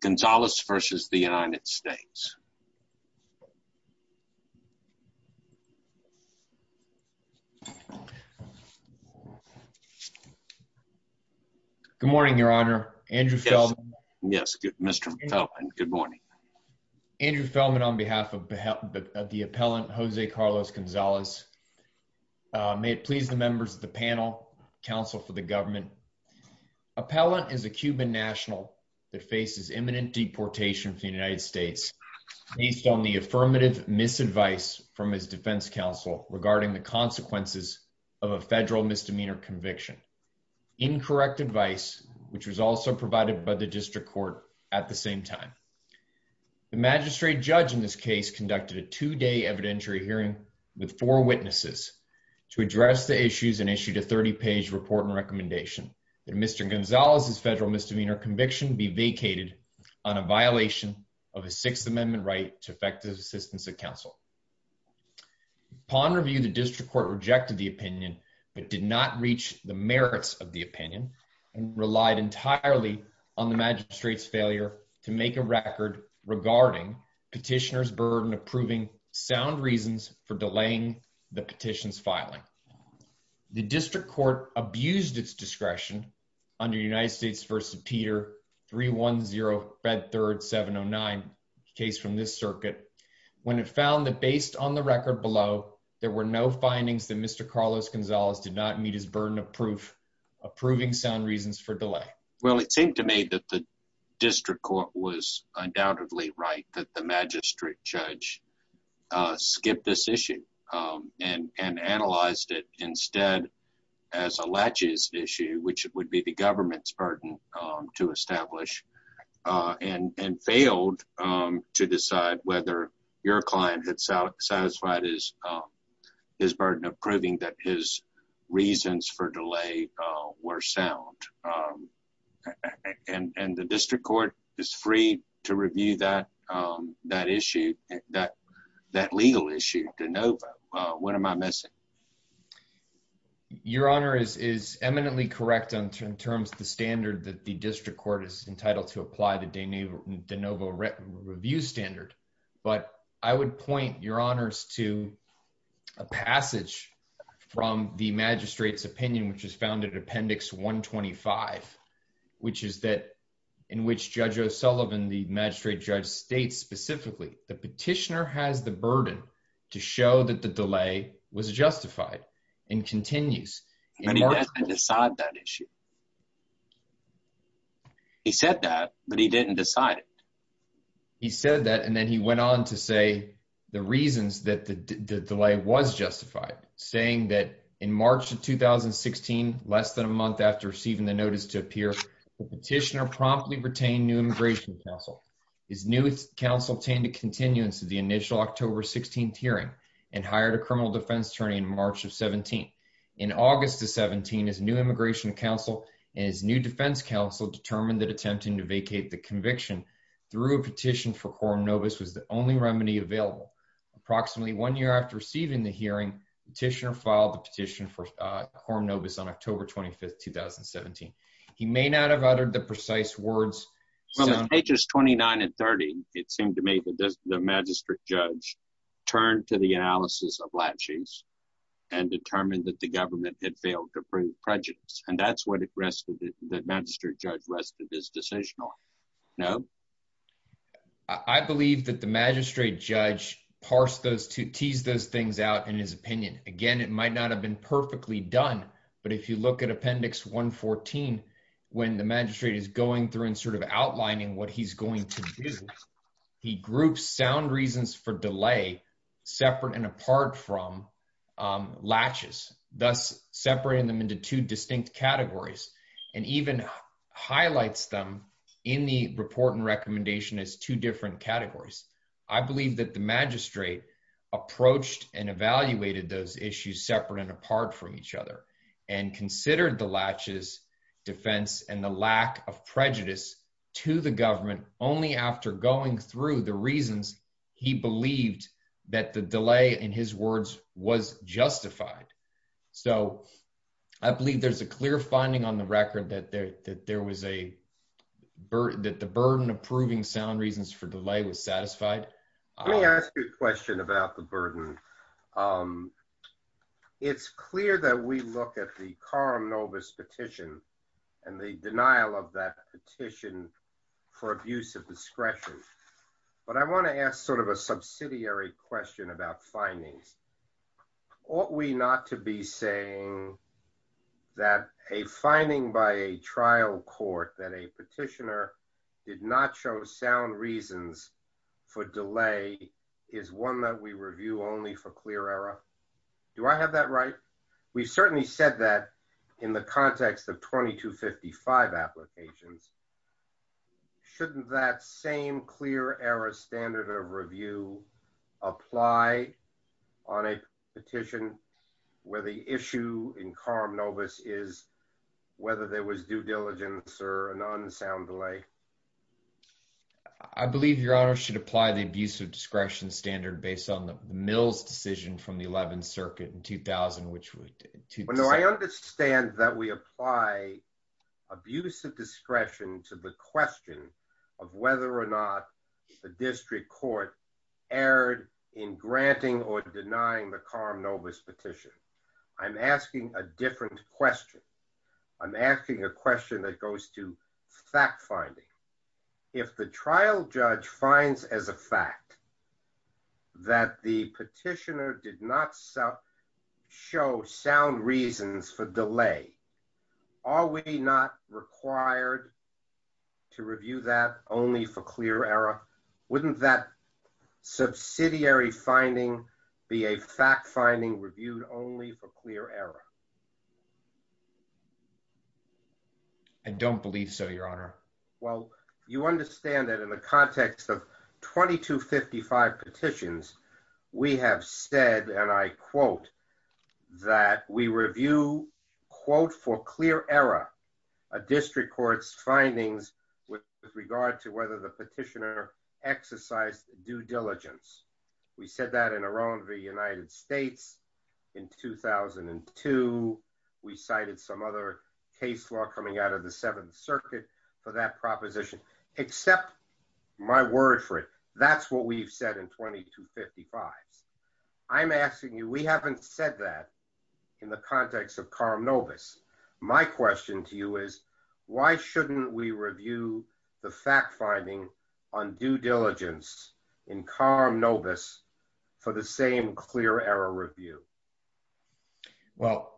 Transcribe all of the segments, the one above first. Gonzalez v. the United States. Good morning, Your Honor. Andrew Feldman. Yes, Mr. Feldman, good morning. Andrew Feldman on behalf of the appellant, Jose Carlos Gonzalez. May it please the members of the panel, counsel for the government. Appellant is a Cuban national that faces imminent deportation from the United States based on the affirmative misadvice from his defense counsel regarding the consequences of a federal misdemeanor conviction. Incorrect advice, which was also provided by the district court at the same time. The magistrate judge in this case conducted a two-day evidentiary hearing with four witnesses to address the issues and issued a 30 page report and recommendation that Mr. Gonzalez's federal misdemeanor conviction be vacated on a violation of a Sixth Amendment right to effective assistance of counsel. Upon review, the district court rejected the opinion but did not reach the merits of the opinion and relied entirely on the approving sound reasons for delaying the petitions filing. The district court abused its discretion under United States v. Peter 310 Bed Third 709, case from this circuit, when it found that based on the record below, there were no findings that Mr. Carlos Gonzalez did not meet his burden of proof approving sound reasons for delay. Well, it seemed to me that the district court was undoubtedly right that the magistrate judge skipped this issue and analyzed it instead as a latches issue, which would be the government's burden to establish, and failed to decide whether your client had satisfied his burden of proving that his reasons for delay were sound. And the district court is free to review that that issue that that legal issue de novo. What am I missing? Your Honor is eminently correct in terms of the standard that the district court is entitled to apply the de novo review standard. But I would point your honors to a passage from the magistrate's 125, which is that in which Judge O'Sullivan, the magistrate judge states specifically the petitioner has the burden to show that the delay was justified and continues. But he didn't decide that issue. He said that, but he didn't decide it. He said that and then he went on to say the reasons that the delay was justified, saying that in March of 2016, less than a month after receiving the notice to appear, the petitioner promptly retained new immigration counsel. His new counsel attained a continuance of the initial October 16th hearing and hired a criminal defense attorney in March of 17. In August of 17, his new immigration counsel and his new defense counsel determined that attempting to vacate the conviction through a petition for quorum novus was the only remedy available. Approximately one year after receiving the hearing, the petitioner filed the petition for quorum novus on October 25th, 2017. He may not have uttered the precise words. From pages 29 and 30, it seemed to me that the magistrate judge turned to the analysis of latchings and determined that the government had failed to prove prejudice. And that's what it rested, that magistrate judge rested his decision on. No? I believe that the magistrate judge parsed those two, teased those things out in his opinion. Again, it might not have been perfectly done, but if you look at Appendix 114, when the magistrate is going through and sort of outlining what he's going to do, he groups sound reasons for delay separate and apart from latches, thus separating them into two distinct categories and even highlights them in the report and recommendation as two different categories. I believe that the magistrate approached and evaluated those issues separate and apart from each other and considered the latches defense and the lack of prejudice to the government only after going through the reasons he believed that the delay in his words was justified. So I believe there's a clear finding on the record that the burden of proving sound reasons for delay was satisfied. Let me ask you a question about the burden. It's clear that we look at the Coram Novus petition and the denial of that petition for abuse of discretion. But I want to ask sort of a subsidiary question about findings. Ought we not to be saying that a finding by a trial court that a petitioner did not show sound reasons for delay is one that we review only for clear error? Do I have that right? We've certainly said that in the context of 2255 applications. Shouldn't that same clear error standard of review apply on a petition where the issue in Coram Novus is whether there was due diligence or an unsound delay? I believe your honor should apply the abuse of discretion standard based on the Mills decision from the 11th circuit in 2000. I understand that we apply abuse of discretion to the question of whether or not the district court erred in granting or denying the Coram Novus petition. I'm asking a different question. I'm asking a question that goes to fact finding. If the trial judge finds as a fact that the petitioner did not show sound reasons for delay, are we not required to review that only for clear error? Wouldn't that subsidiary finding be a fact finding reviewed only for clear error? I don't believe so, your honor. Well, you understand that in the context of 2255 petitions, we have said, and I quote, that we review quote for clear error a district court's findings with regard to whether the petitioner exercised due diligence. We said that in a wrong of the United States in 2002. We cited some other case law coming out of the 7th circuit for that proposition, except my word for it, that's what we've said in 2255. I'm asking you, we haven't said that in the context of Coram Novus. My question to you is, why shouldn't we review the fact finding on due diligence in Coram Novus for the same clear error review? Well,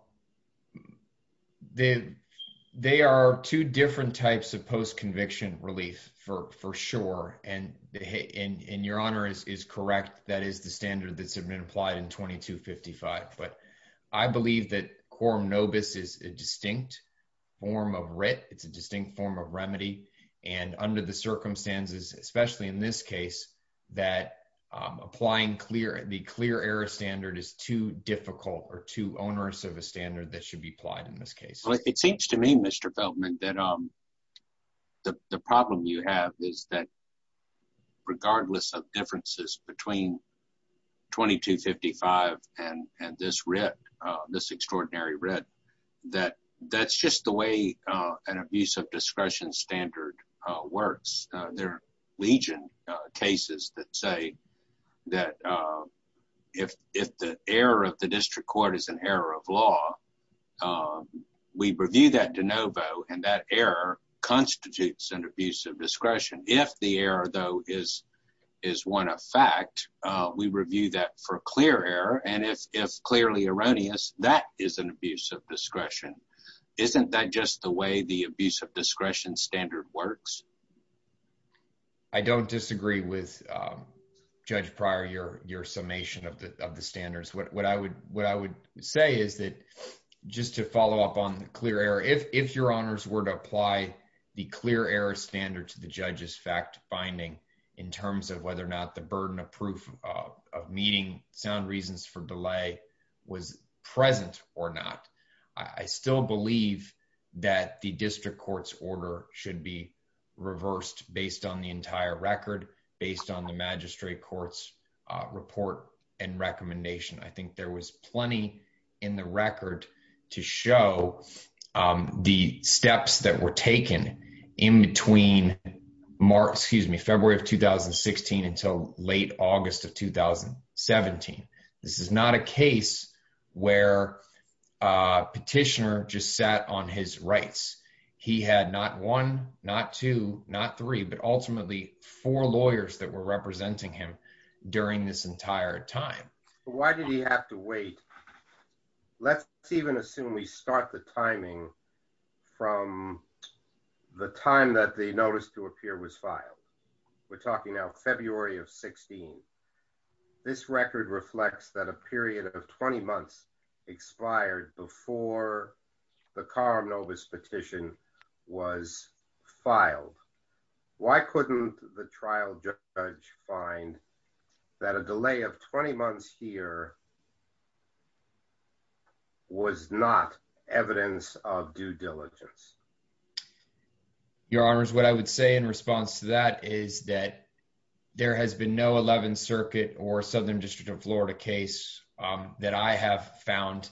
they are two different types of post-conviction relief for sure, and your honor is correct. That is the standard that's been applied in 2255, but I believe that Coram Novus is a distinct form of writ. It's a distinct form of remedy, and under the circumstances, especially in this case, that applying the clear error standard is too difficult or too onerous of a standard that should be applied in this case. Well, it seems to me, Mr. Feldman, that the problem you have is that regardless of differences between 2255 and this extraordinary writ, that that's just the way an abuse of discretion standard works. There are legion cases that say that if the error of the district court is an error of law, we review that de novo, and that error constitutes an abuse of discretion. If the error, though, is one of fact, we review that for clear error, and if clearly erroneous, that is an abuse of discretion. Isn't that just the way the abuse of discretion standard works? I don't disagree with Judge Pryor, your summation of the standards. What I would say is that just to follow up on the clear error, if your honors were to apply the clear error standard to the judge's fact-finding in terms of whether or not the burden of proof of meeting sound reasons for delay was present or not, I still believe that the district court's order should be reversed based on the entire record, based on the magistrate court's report and recommendation. I think there was plenty in the record to show the steps that were taken in between February of 2016 until late August of 2017. This is not a case where a petitioner just sat on his rights. He had not one, not two, not three, but ultimately four lawyers that were representing him during this entire time. Why did he have to wait? Let's even assume we start the timing from the time that the notice to appear was filed. We're talking now February of 16. This record reflects that a period of 20 months expired before the Karamnovas petition was that a delay of 20 months here was not evidence of due diligence. Your honors, what I would say in response to that is that there has been no 11th Circuit or Southern District of Florida case that I have found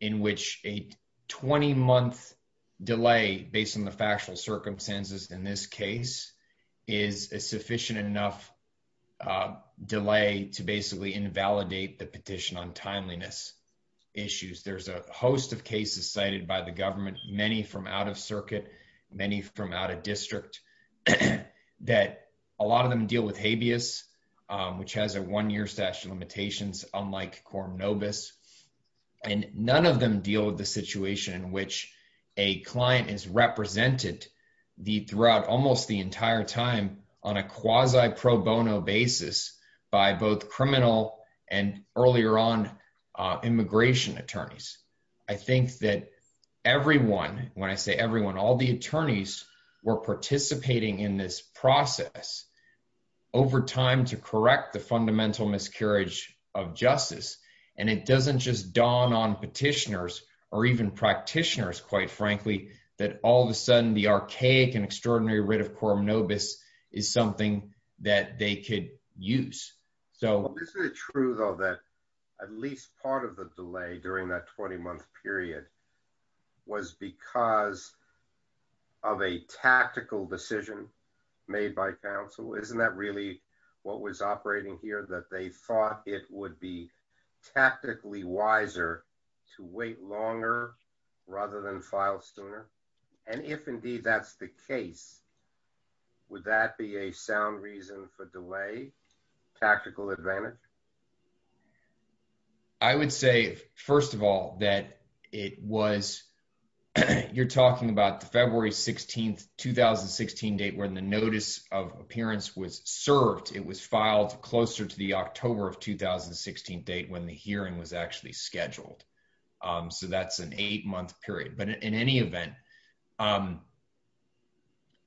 in which a 20-month delay based on the factual circumstances in this case is a sufficient enough delay to basically invalidate the petition on timeliness issues. There's a host of cases cited by the government, many from out of circuit, many from out of district, that a lot of them deal with habeas, which has a one-year statute of limitations unlike Karamnovas, and none of them deal with the situation in which a client is represented throughout almost the entire time on a quasi pro bono basis by both criminal and earlier on immigration attorneys. I think that everyone, when I say everyone, all the attorneys were participating in this process over time to correct the fundamental miscarriage of justice, and it doesn't just dawn on petitioners or even practitioners, quite frankly, that all of a sudden the archaic and extraordinary writ of Karamnovas is something that they could use. Well, isn't it true though that at least part of the delay during that 20-month period was because of a tactical decision made by counsel? Isn't that really what was operating here, that they thought it would be tactically wiser to wait longer rather than file sooner, and if indeed that's the case, would that be a sound reason for delay, tactical advantage? I would say, first of all, that it was, you're talking about the February 16th, 2016 date when the notice of appearance was served. It was filed closer to the October of 2016 date when the hearing was actually scheduled, so that's an eight-month period, but in any event,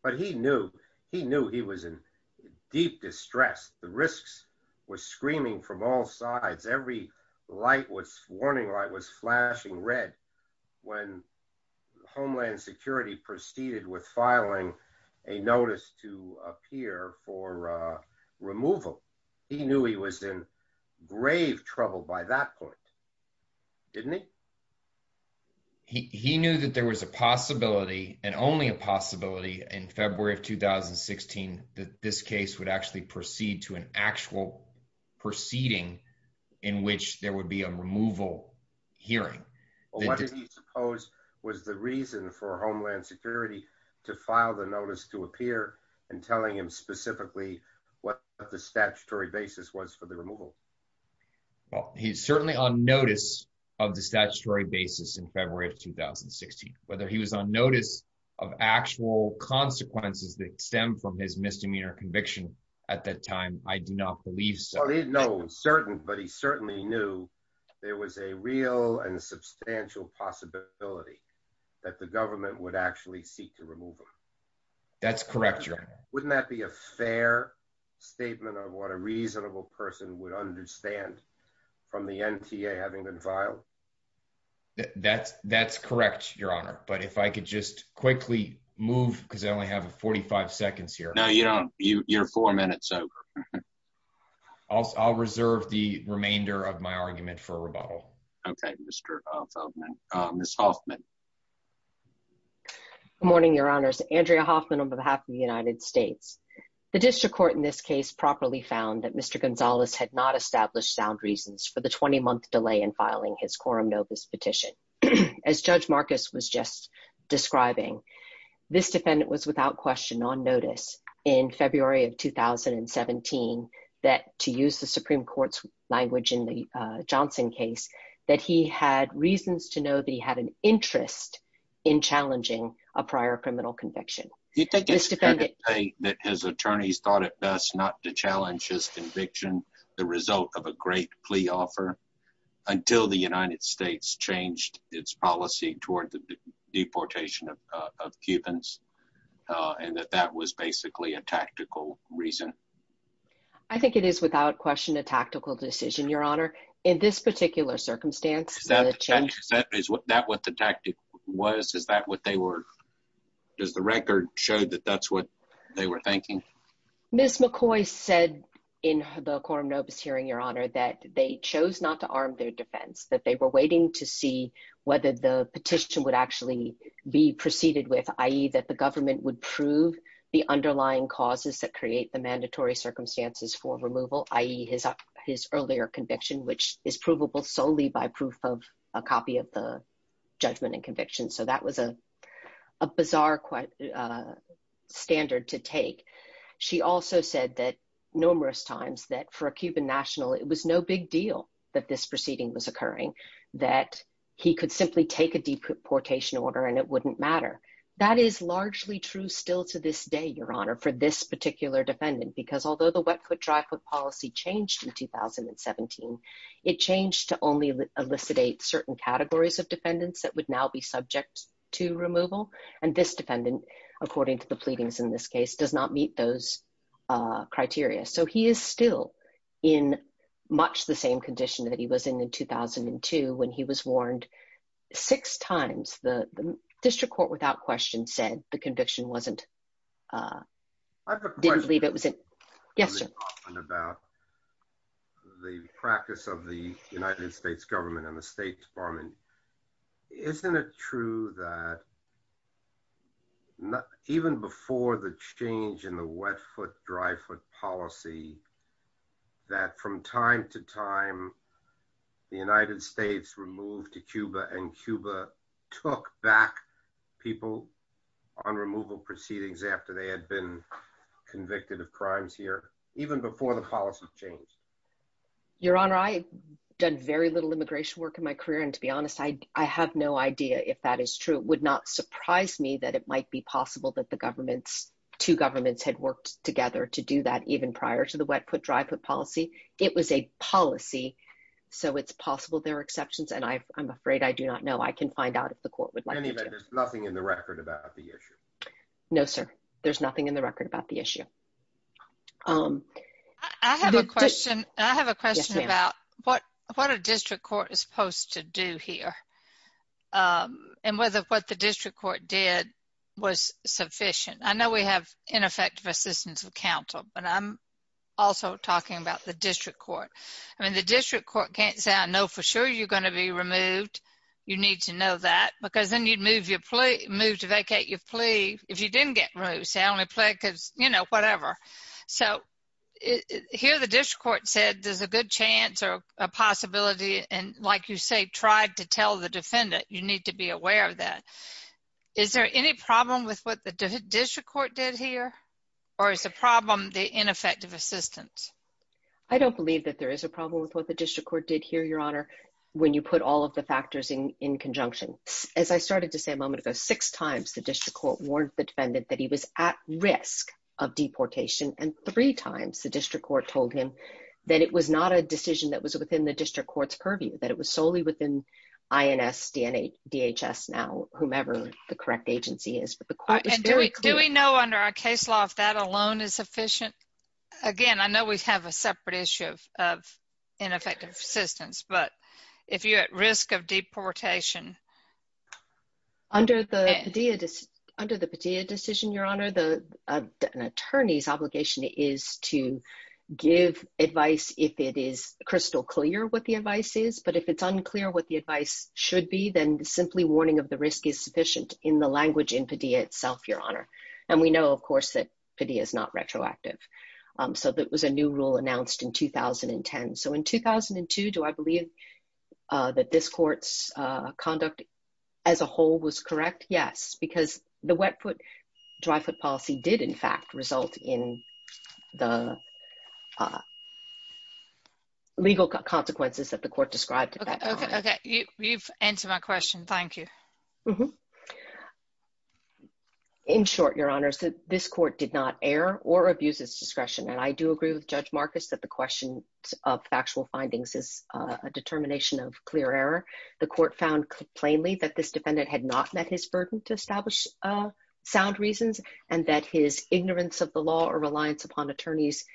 but he knew he was in deep distress. The risks were screaming from all sides. Every warning light was flashing red when Homeland Security proceeded with filing a notice to appear for removal. He knew he was in deep distress at that point, didn't he? He knew that there was a possibility and only a possibility in February of 2016 that this case would actually proceed to an actual proceeding in which there would be a removal hearing. What did he suppose was the reason for Homeland Security to file the notice to appear and telling him specifically what the statutory basis was for the removal? Well, he's certainly on notice of the statutory basis in February of 2016. Whether he was on notice of actual consequences that stem from his misdemeanor conviction at that time, I do not believe so. No, I'm certain, but he certainly knew there was a real and substantial possibility that the government would actually seek to remove him. That's correct. Wouldn't that be a fair statement of what a reasonable person would understand from the NTA having been filed? That's correct, Your Honor, but if I could just quickly move because I only have 45 seconds here. No, you don't. You're four minutes over. I'll reserve the remainder of my argument for rebuttal. Okay, Ms. Hoffman. Good morning, Your Honors. Andrea Hoffman on behalf of the United States. The district court in this case properly found that Mr. Gonzalez had not established sound reasons for the 20-month delay in filing his Corum Novus petition. As Judge Marcus was just describing, this defendant was without question on notice in February of 2017 that to use the Supreme Court's language in the Johnson case that he had reasons to know that he had an interest in challenging a prior criminal conviction. He said that his attorneys thought it best not to challenge his conviction, the result of a great plea offer, until the United States changed its policy toward the deportation of Cubans and that that was basically a tactical reason. I think it is without question a tactical decision, Your Honor, in this particular circumstance. Is that what the does the record show that that's what they were thinking? Ms. McCoy said in the Corum Novus hearing, Your Honor, that they chose not to arm their defense, that they were waiting to see whether the petition would actually be proceeded with, i.e., that the government would prove the underlying causes that create the mandatory circumstances for removal, i.e., his earlier conviction, which is provable solely by proof of a copy of the judgment and conviction. So, that was a bizarre standard to take. She also said that, numerous times, that for a Cuban national, it was no big deal that this proceeding was occurring, that he could simply take a deportation order and it wouldn't matter. That is largely true still to this day, Your Honor, for this particular defendant, because although the wet foot, dry foot policy changed in 2017, it changed to only elicitate certain categories of defendants that would now be subject to removal. And this defendant, according to the pleadings in this case, does not meet those criteria. So, he is still in much the same condition that he was in in 2002 when he was warned six times. The district court, without question, said the conviction wasn't, I have a question about the practice of the United States government and the State Department. Isn't it true that even before the change in the wet foot, dry foot policy, that from time to time, the United States removed to Cuba and Cuba took back people on removal proceedings after they had been convicted of crimes here, even before the policy changed? Your Honor, I've done very little immigration work in my career. And to be honest, I have no idea if that is true. It would not surprise me that it might be possible that the governments, two governments had worked together to do that even prior to the wet foot, dry foot policy. It was a policy. So, it's possible there are exceptions. And I'm afraid I do not know. I can find out if the court would like to. In any event, there's nothing in the record about the issue. No, sir. There's nothing in the record about the issue. I have a question. I have a question about what a district court is supposed to do here and whether what the district court did was sufficient. I know we have ineffective assistance of counsel, but I'm also talking about the district court. I mean, the district court can't say, I know for sure you're going to be removed. You need to know that. Because then you'd move to vacate your plea if you didn't get removed. Say, I only plead because, you know, whatever. So, here the district court said there's a good chance or a possibility. And like you say, tried to tell the defendant. You need to be aware of that. Is there any problem with what the district court did here? Or is the problem the ineffective assistance? I don't believe that there is a problem with what the district court did when you put all of the factors in conjunction. As I started to say a moment ago, six times the district court warned the defendant that he was at risk of deportation. And three times the district court told him that it was not a decision that was within the district court's purview. That it was solely within INS, DHS now, whomever the correct agency is. Do we know under our case law if that if you're at risk of deportation? Under the Padilla decision, your honor, an attorney's obligation is to give advice if it is crystal clear what the advice is. But if it's unclear what the advice should be, then simply warning of the risk is sufficient in the language in Padilla itself, your honor. And we know, of course, that Padilla is not retroactive. So, that was a new announced in 2010. So, in 2002, do I believe that this court's conduct as a whole was correct? Yes. Because the wet foot, dry foot policy did, in fact, result in the legal consequences that the court described. Okay. Okay. You've answered my question. Thank you. In short, your honors, this court did not err or abuse its discretion. And I do agree with Judge Marcus that the question of factual findings is a determination of clear error. The court found plainly that this defendant had not met his burden to establish sound reasons and that his ignorance of the law or reliance upon attorneys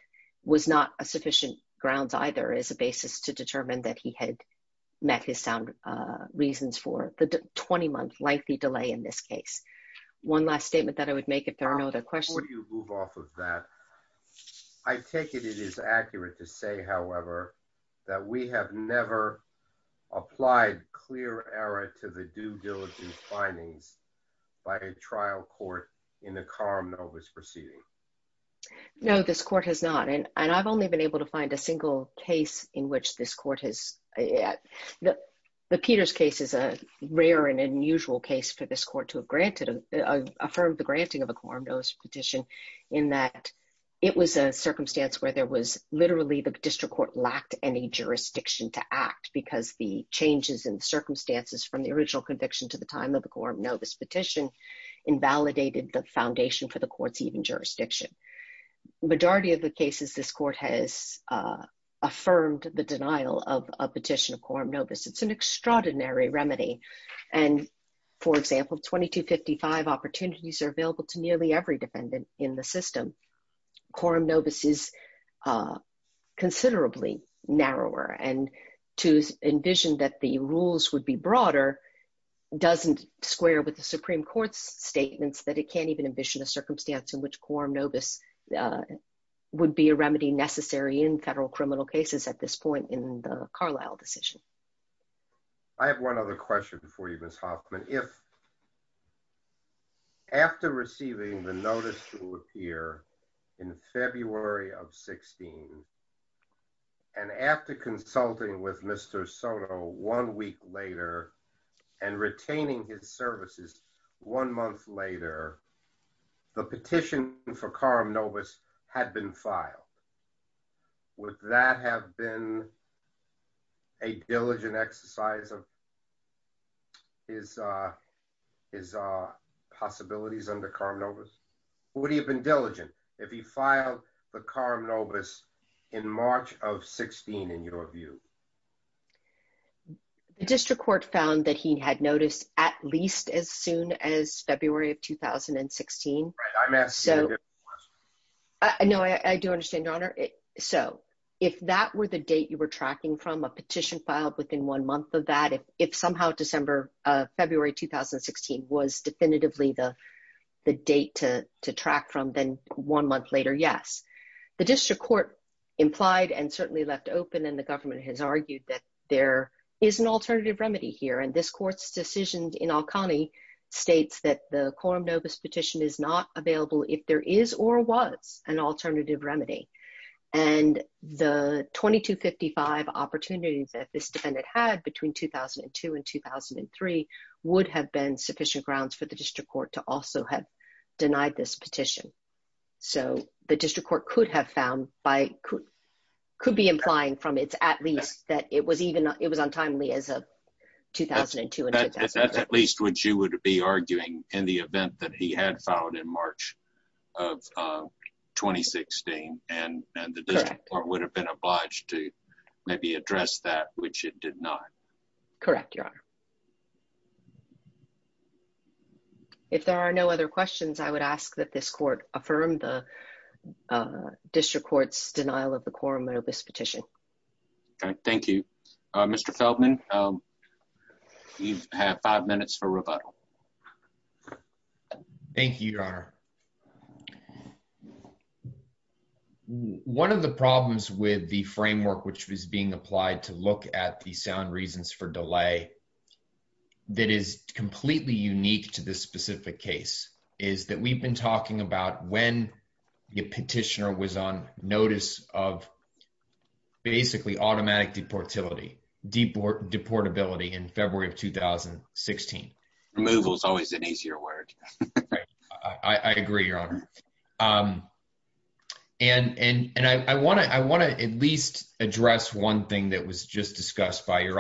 was not a sufficient grounds either as a basis to determine that he had met his sound reasons for the 20-month lengthy delay in this case. One last statement that I would make if there are no other questions. Before you move off of that, I take it it is accurate to say, however, that we have never applied clear error to the due diligence findings by a trial court in the Coram Novus proceeding. No, this court has not. And I've only been able to find a single case in which this court has. The Peters case is a rare and unusual case for this court to have granted, affirmed the granting of a Coram Novus petition in that it was a circumstance where there was literally the district court lacked any jurisdiction to act because the changes in circumstances from the original conviction to the time of the Coram Novus petition invalidated the foundation for the court's even jurisdiction. Majority of the cases, this court has affirmed the denial of a petition of Coram Novus. It's an extraordinary remedy. And for example, 2255 opportunities are available to nearly every defendant in the system. Coram Novus is considerably narrower. And to envision that the rules would be broader doesn't square with the Supreme Court's statements that it can't even envision a circumstance in which Coram Novus would be a remedy necessary in federal criminal cases at this point in the Carlyle decision. I have one other question for you, Ms. Hoffman. If after receiving the notice to appear in February of 16 and after consulting with Mr. Soto one week later and retaining his services one month later, the petition for Coram Novus had been filed, would that have been a diligent exercise of his possibilities under Coram Novus? Would he have been diligent if he filed the Coram Novus in March of 16, in your view? The district court found that he had noticed at least as soon as February of 2016. Right, I'm asking a different question. No, I do understand, Your Honor. So if that were the date you were tracking from, a petition filed within one month of that, if somehow December, February 2016 was definitively the date to track from, then one month later, yes. The district court implied and certainly left open and the government has argued that there is an alternative remedy here. And this court's decision in Alconi states that the Coram Novus petition is not available if there is or was an alternative remedy. And the 2255 opportunities that this defendant had between 2002 and 2003 would have been sufficient grounds for the district court to also have denied this petition. So the district court could have found by, could be implying from its at least that it was even, it was untimely as of 2002. That's at least what you would be arguing in the event that he had filed in March of 2016. And the district court would have been obliged to maybe address that, which it did not. Correct, Your Honor. If there are no other questions, I would ask that this court affirm the district court's denial of the Coram Novus petition. Okay, thank you. Mr. Feldman, you have five minutes for rebuttal. Thank you, Your Honor. One of the problems with the framework which was being applied to look at the sound reasons for delay that is completely unique to this specific case is that we've been talking about when the petitioner was on notice of basically automatic deportability in February of 2016. Removal is always an easier word. I agree, Your Honor. And I want to at least address one thing that was just discussed by his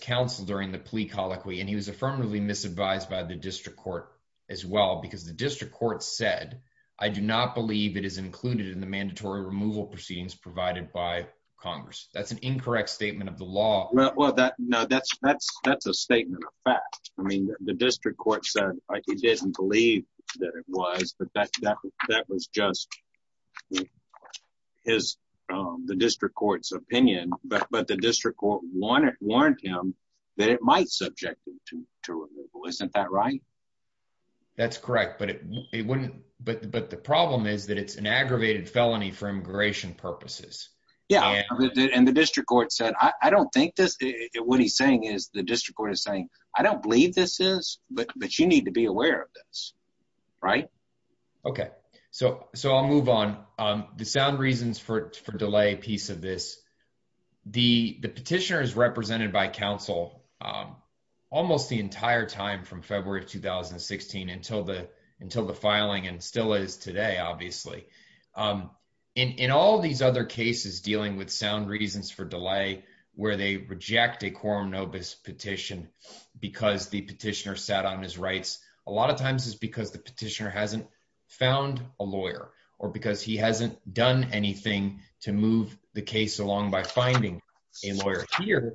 counsel during the plea colloquy. And he was affirmatively misadvised by the district court as well, because the district court said, I do not believe it is included in the mandatory removal proceedings provided by Congress. That's an incorrect statement of the law. No, that's a statement of fact. I mean, the district court said he didn't believe that it might subject him to removal. Isn't that right? That's correct. But the problem is that it's an aggravated felony for immigration purposes. Yeah. And the district court said, I don't think this, what he's saying is the district court is saying, I don't believe this is, but you need to be aware of this. Right? Okay. So I'll move on. The sound reasons for delay piece of this, the petitioner is represented by counsel almost the entire time from February of 2016 until the, until the filing and still is today, obviously. In all these other cases dealing with sound reasons for delay, where they reject a quorum nobis petition because the petitioner sat on his rights, a lot of times it's because the petitioner hasn't found a lawyer or because he hasn't done anything to move the case along by finding a lawyer here.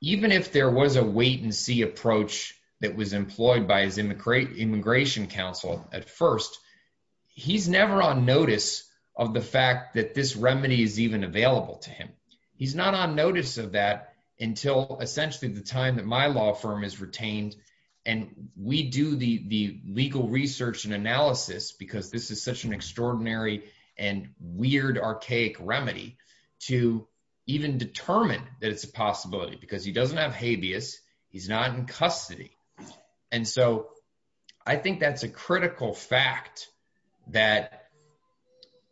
Even if there was a wait and see approach that was employed by his immigrant immigration counsel at first, he's never on notice of the fact that this remedy is even available to him. He's not on notice of that until essentially the time that my law firm is retained. And we do the, the legal research and weird archaic remedy to even determine that it's a possibility because he doesn't have habeas. He's not in custody. And so I think that's a critical fact that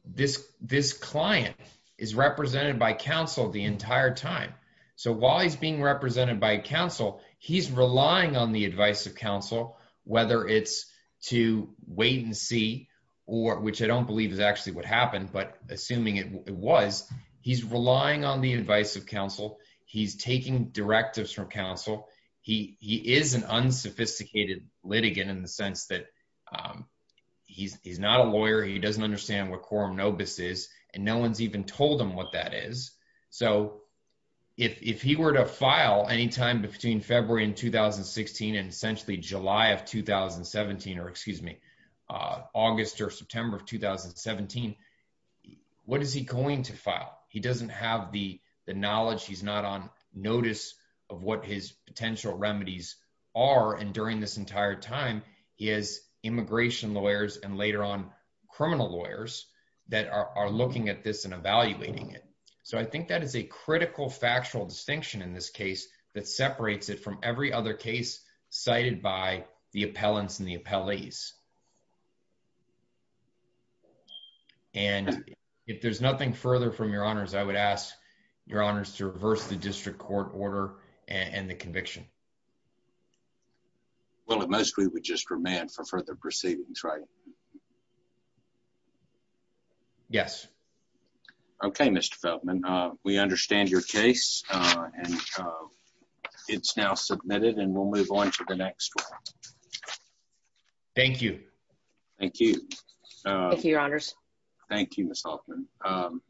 this, this client is represented by counsel the entire time. So while he's being represented by counsel, he's relying on the advice of counsel, whether it's to wait and see, or which I don't believe is actually what happened, but assuming it was, he's relying on the advice of counsel. He's taking directives from counsel. He, he is an unsophisticated litigant in the sense that he's, he's not a lawyer. He doesn't understand what quorum nobis is, and no one's even told him what that is. So if he were to file anytime between February in 2016, and essentially July of 2017, or excuse me, August or September of 2017, what is he going to file? He doesn't have the knowledge. He's not on notice of what his potential remedies are. And during this entire time, he has immigration lawyers and later on criminal lawyers that are looking at this and evaluating it. So I think that is a critical factual distinction in this case that separates it from every other case cited by the appellants and the appellees. And if there's nothing further from your honors, I would ask your honors to reverse the district court order and the conviction. Well, it mostly would just remand for further proceedings, right? Yes. Okay, Mr. Feldman, we understand your case and it's now submitted and we'll move on to the next one. Thank you. Thank you. Thank you, your honors. Thank you, Ms. Hoffman.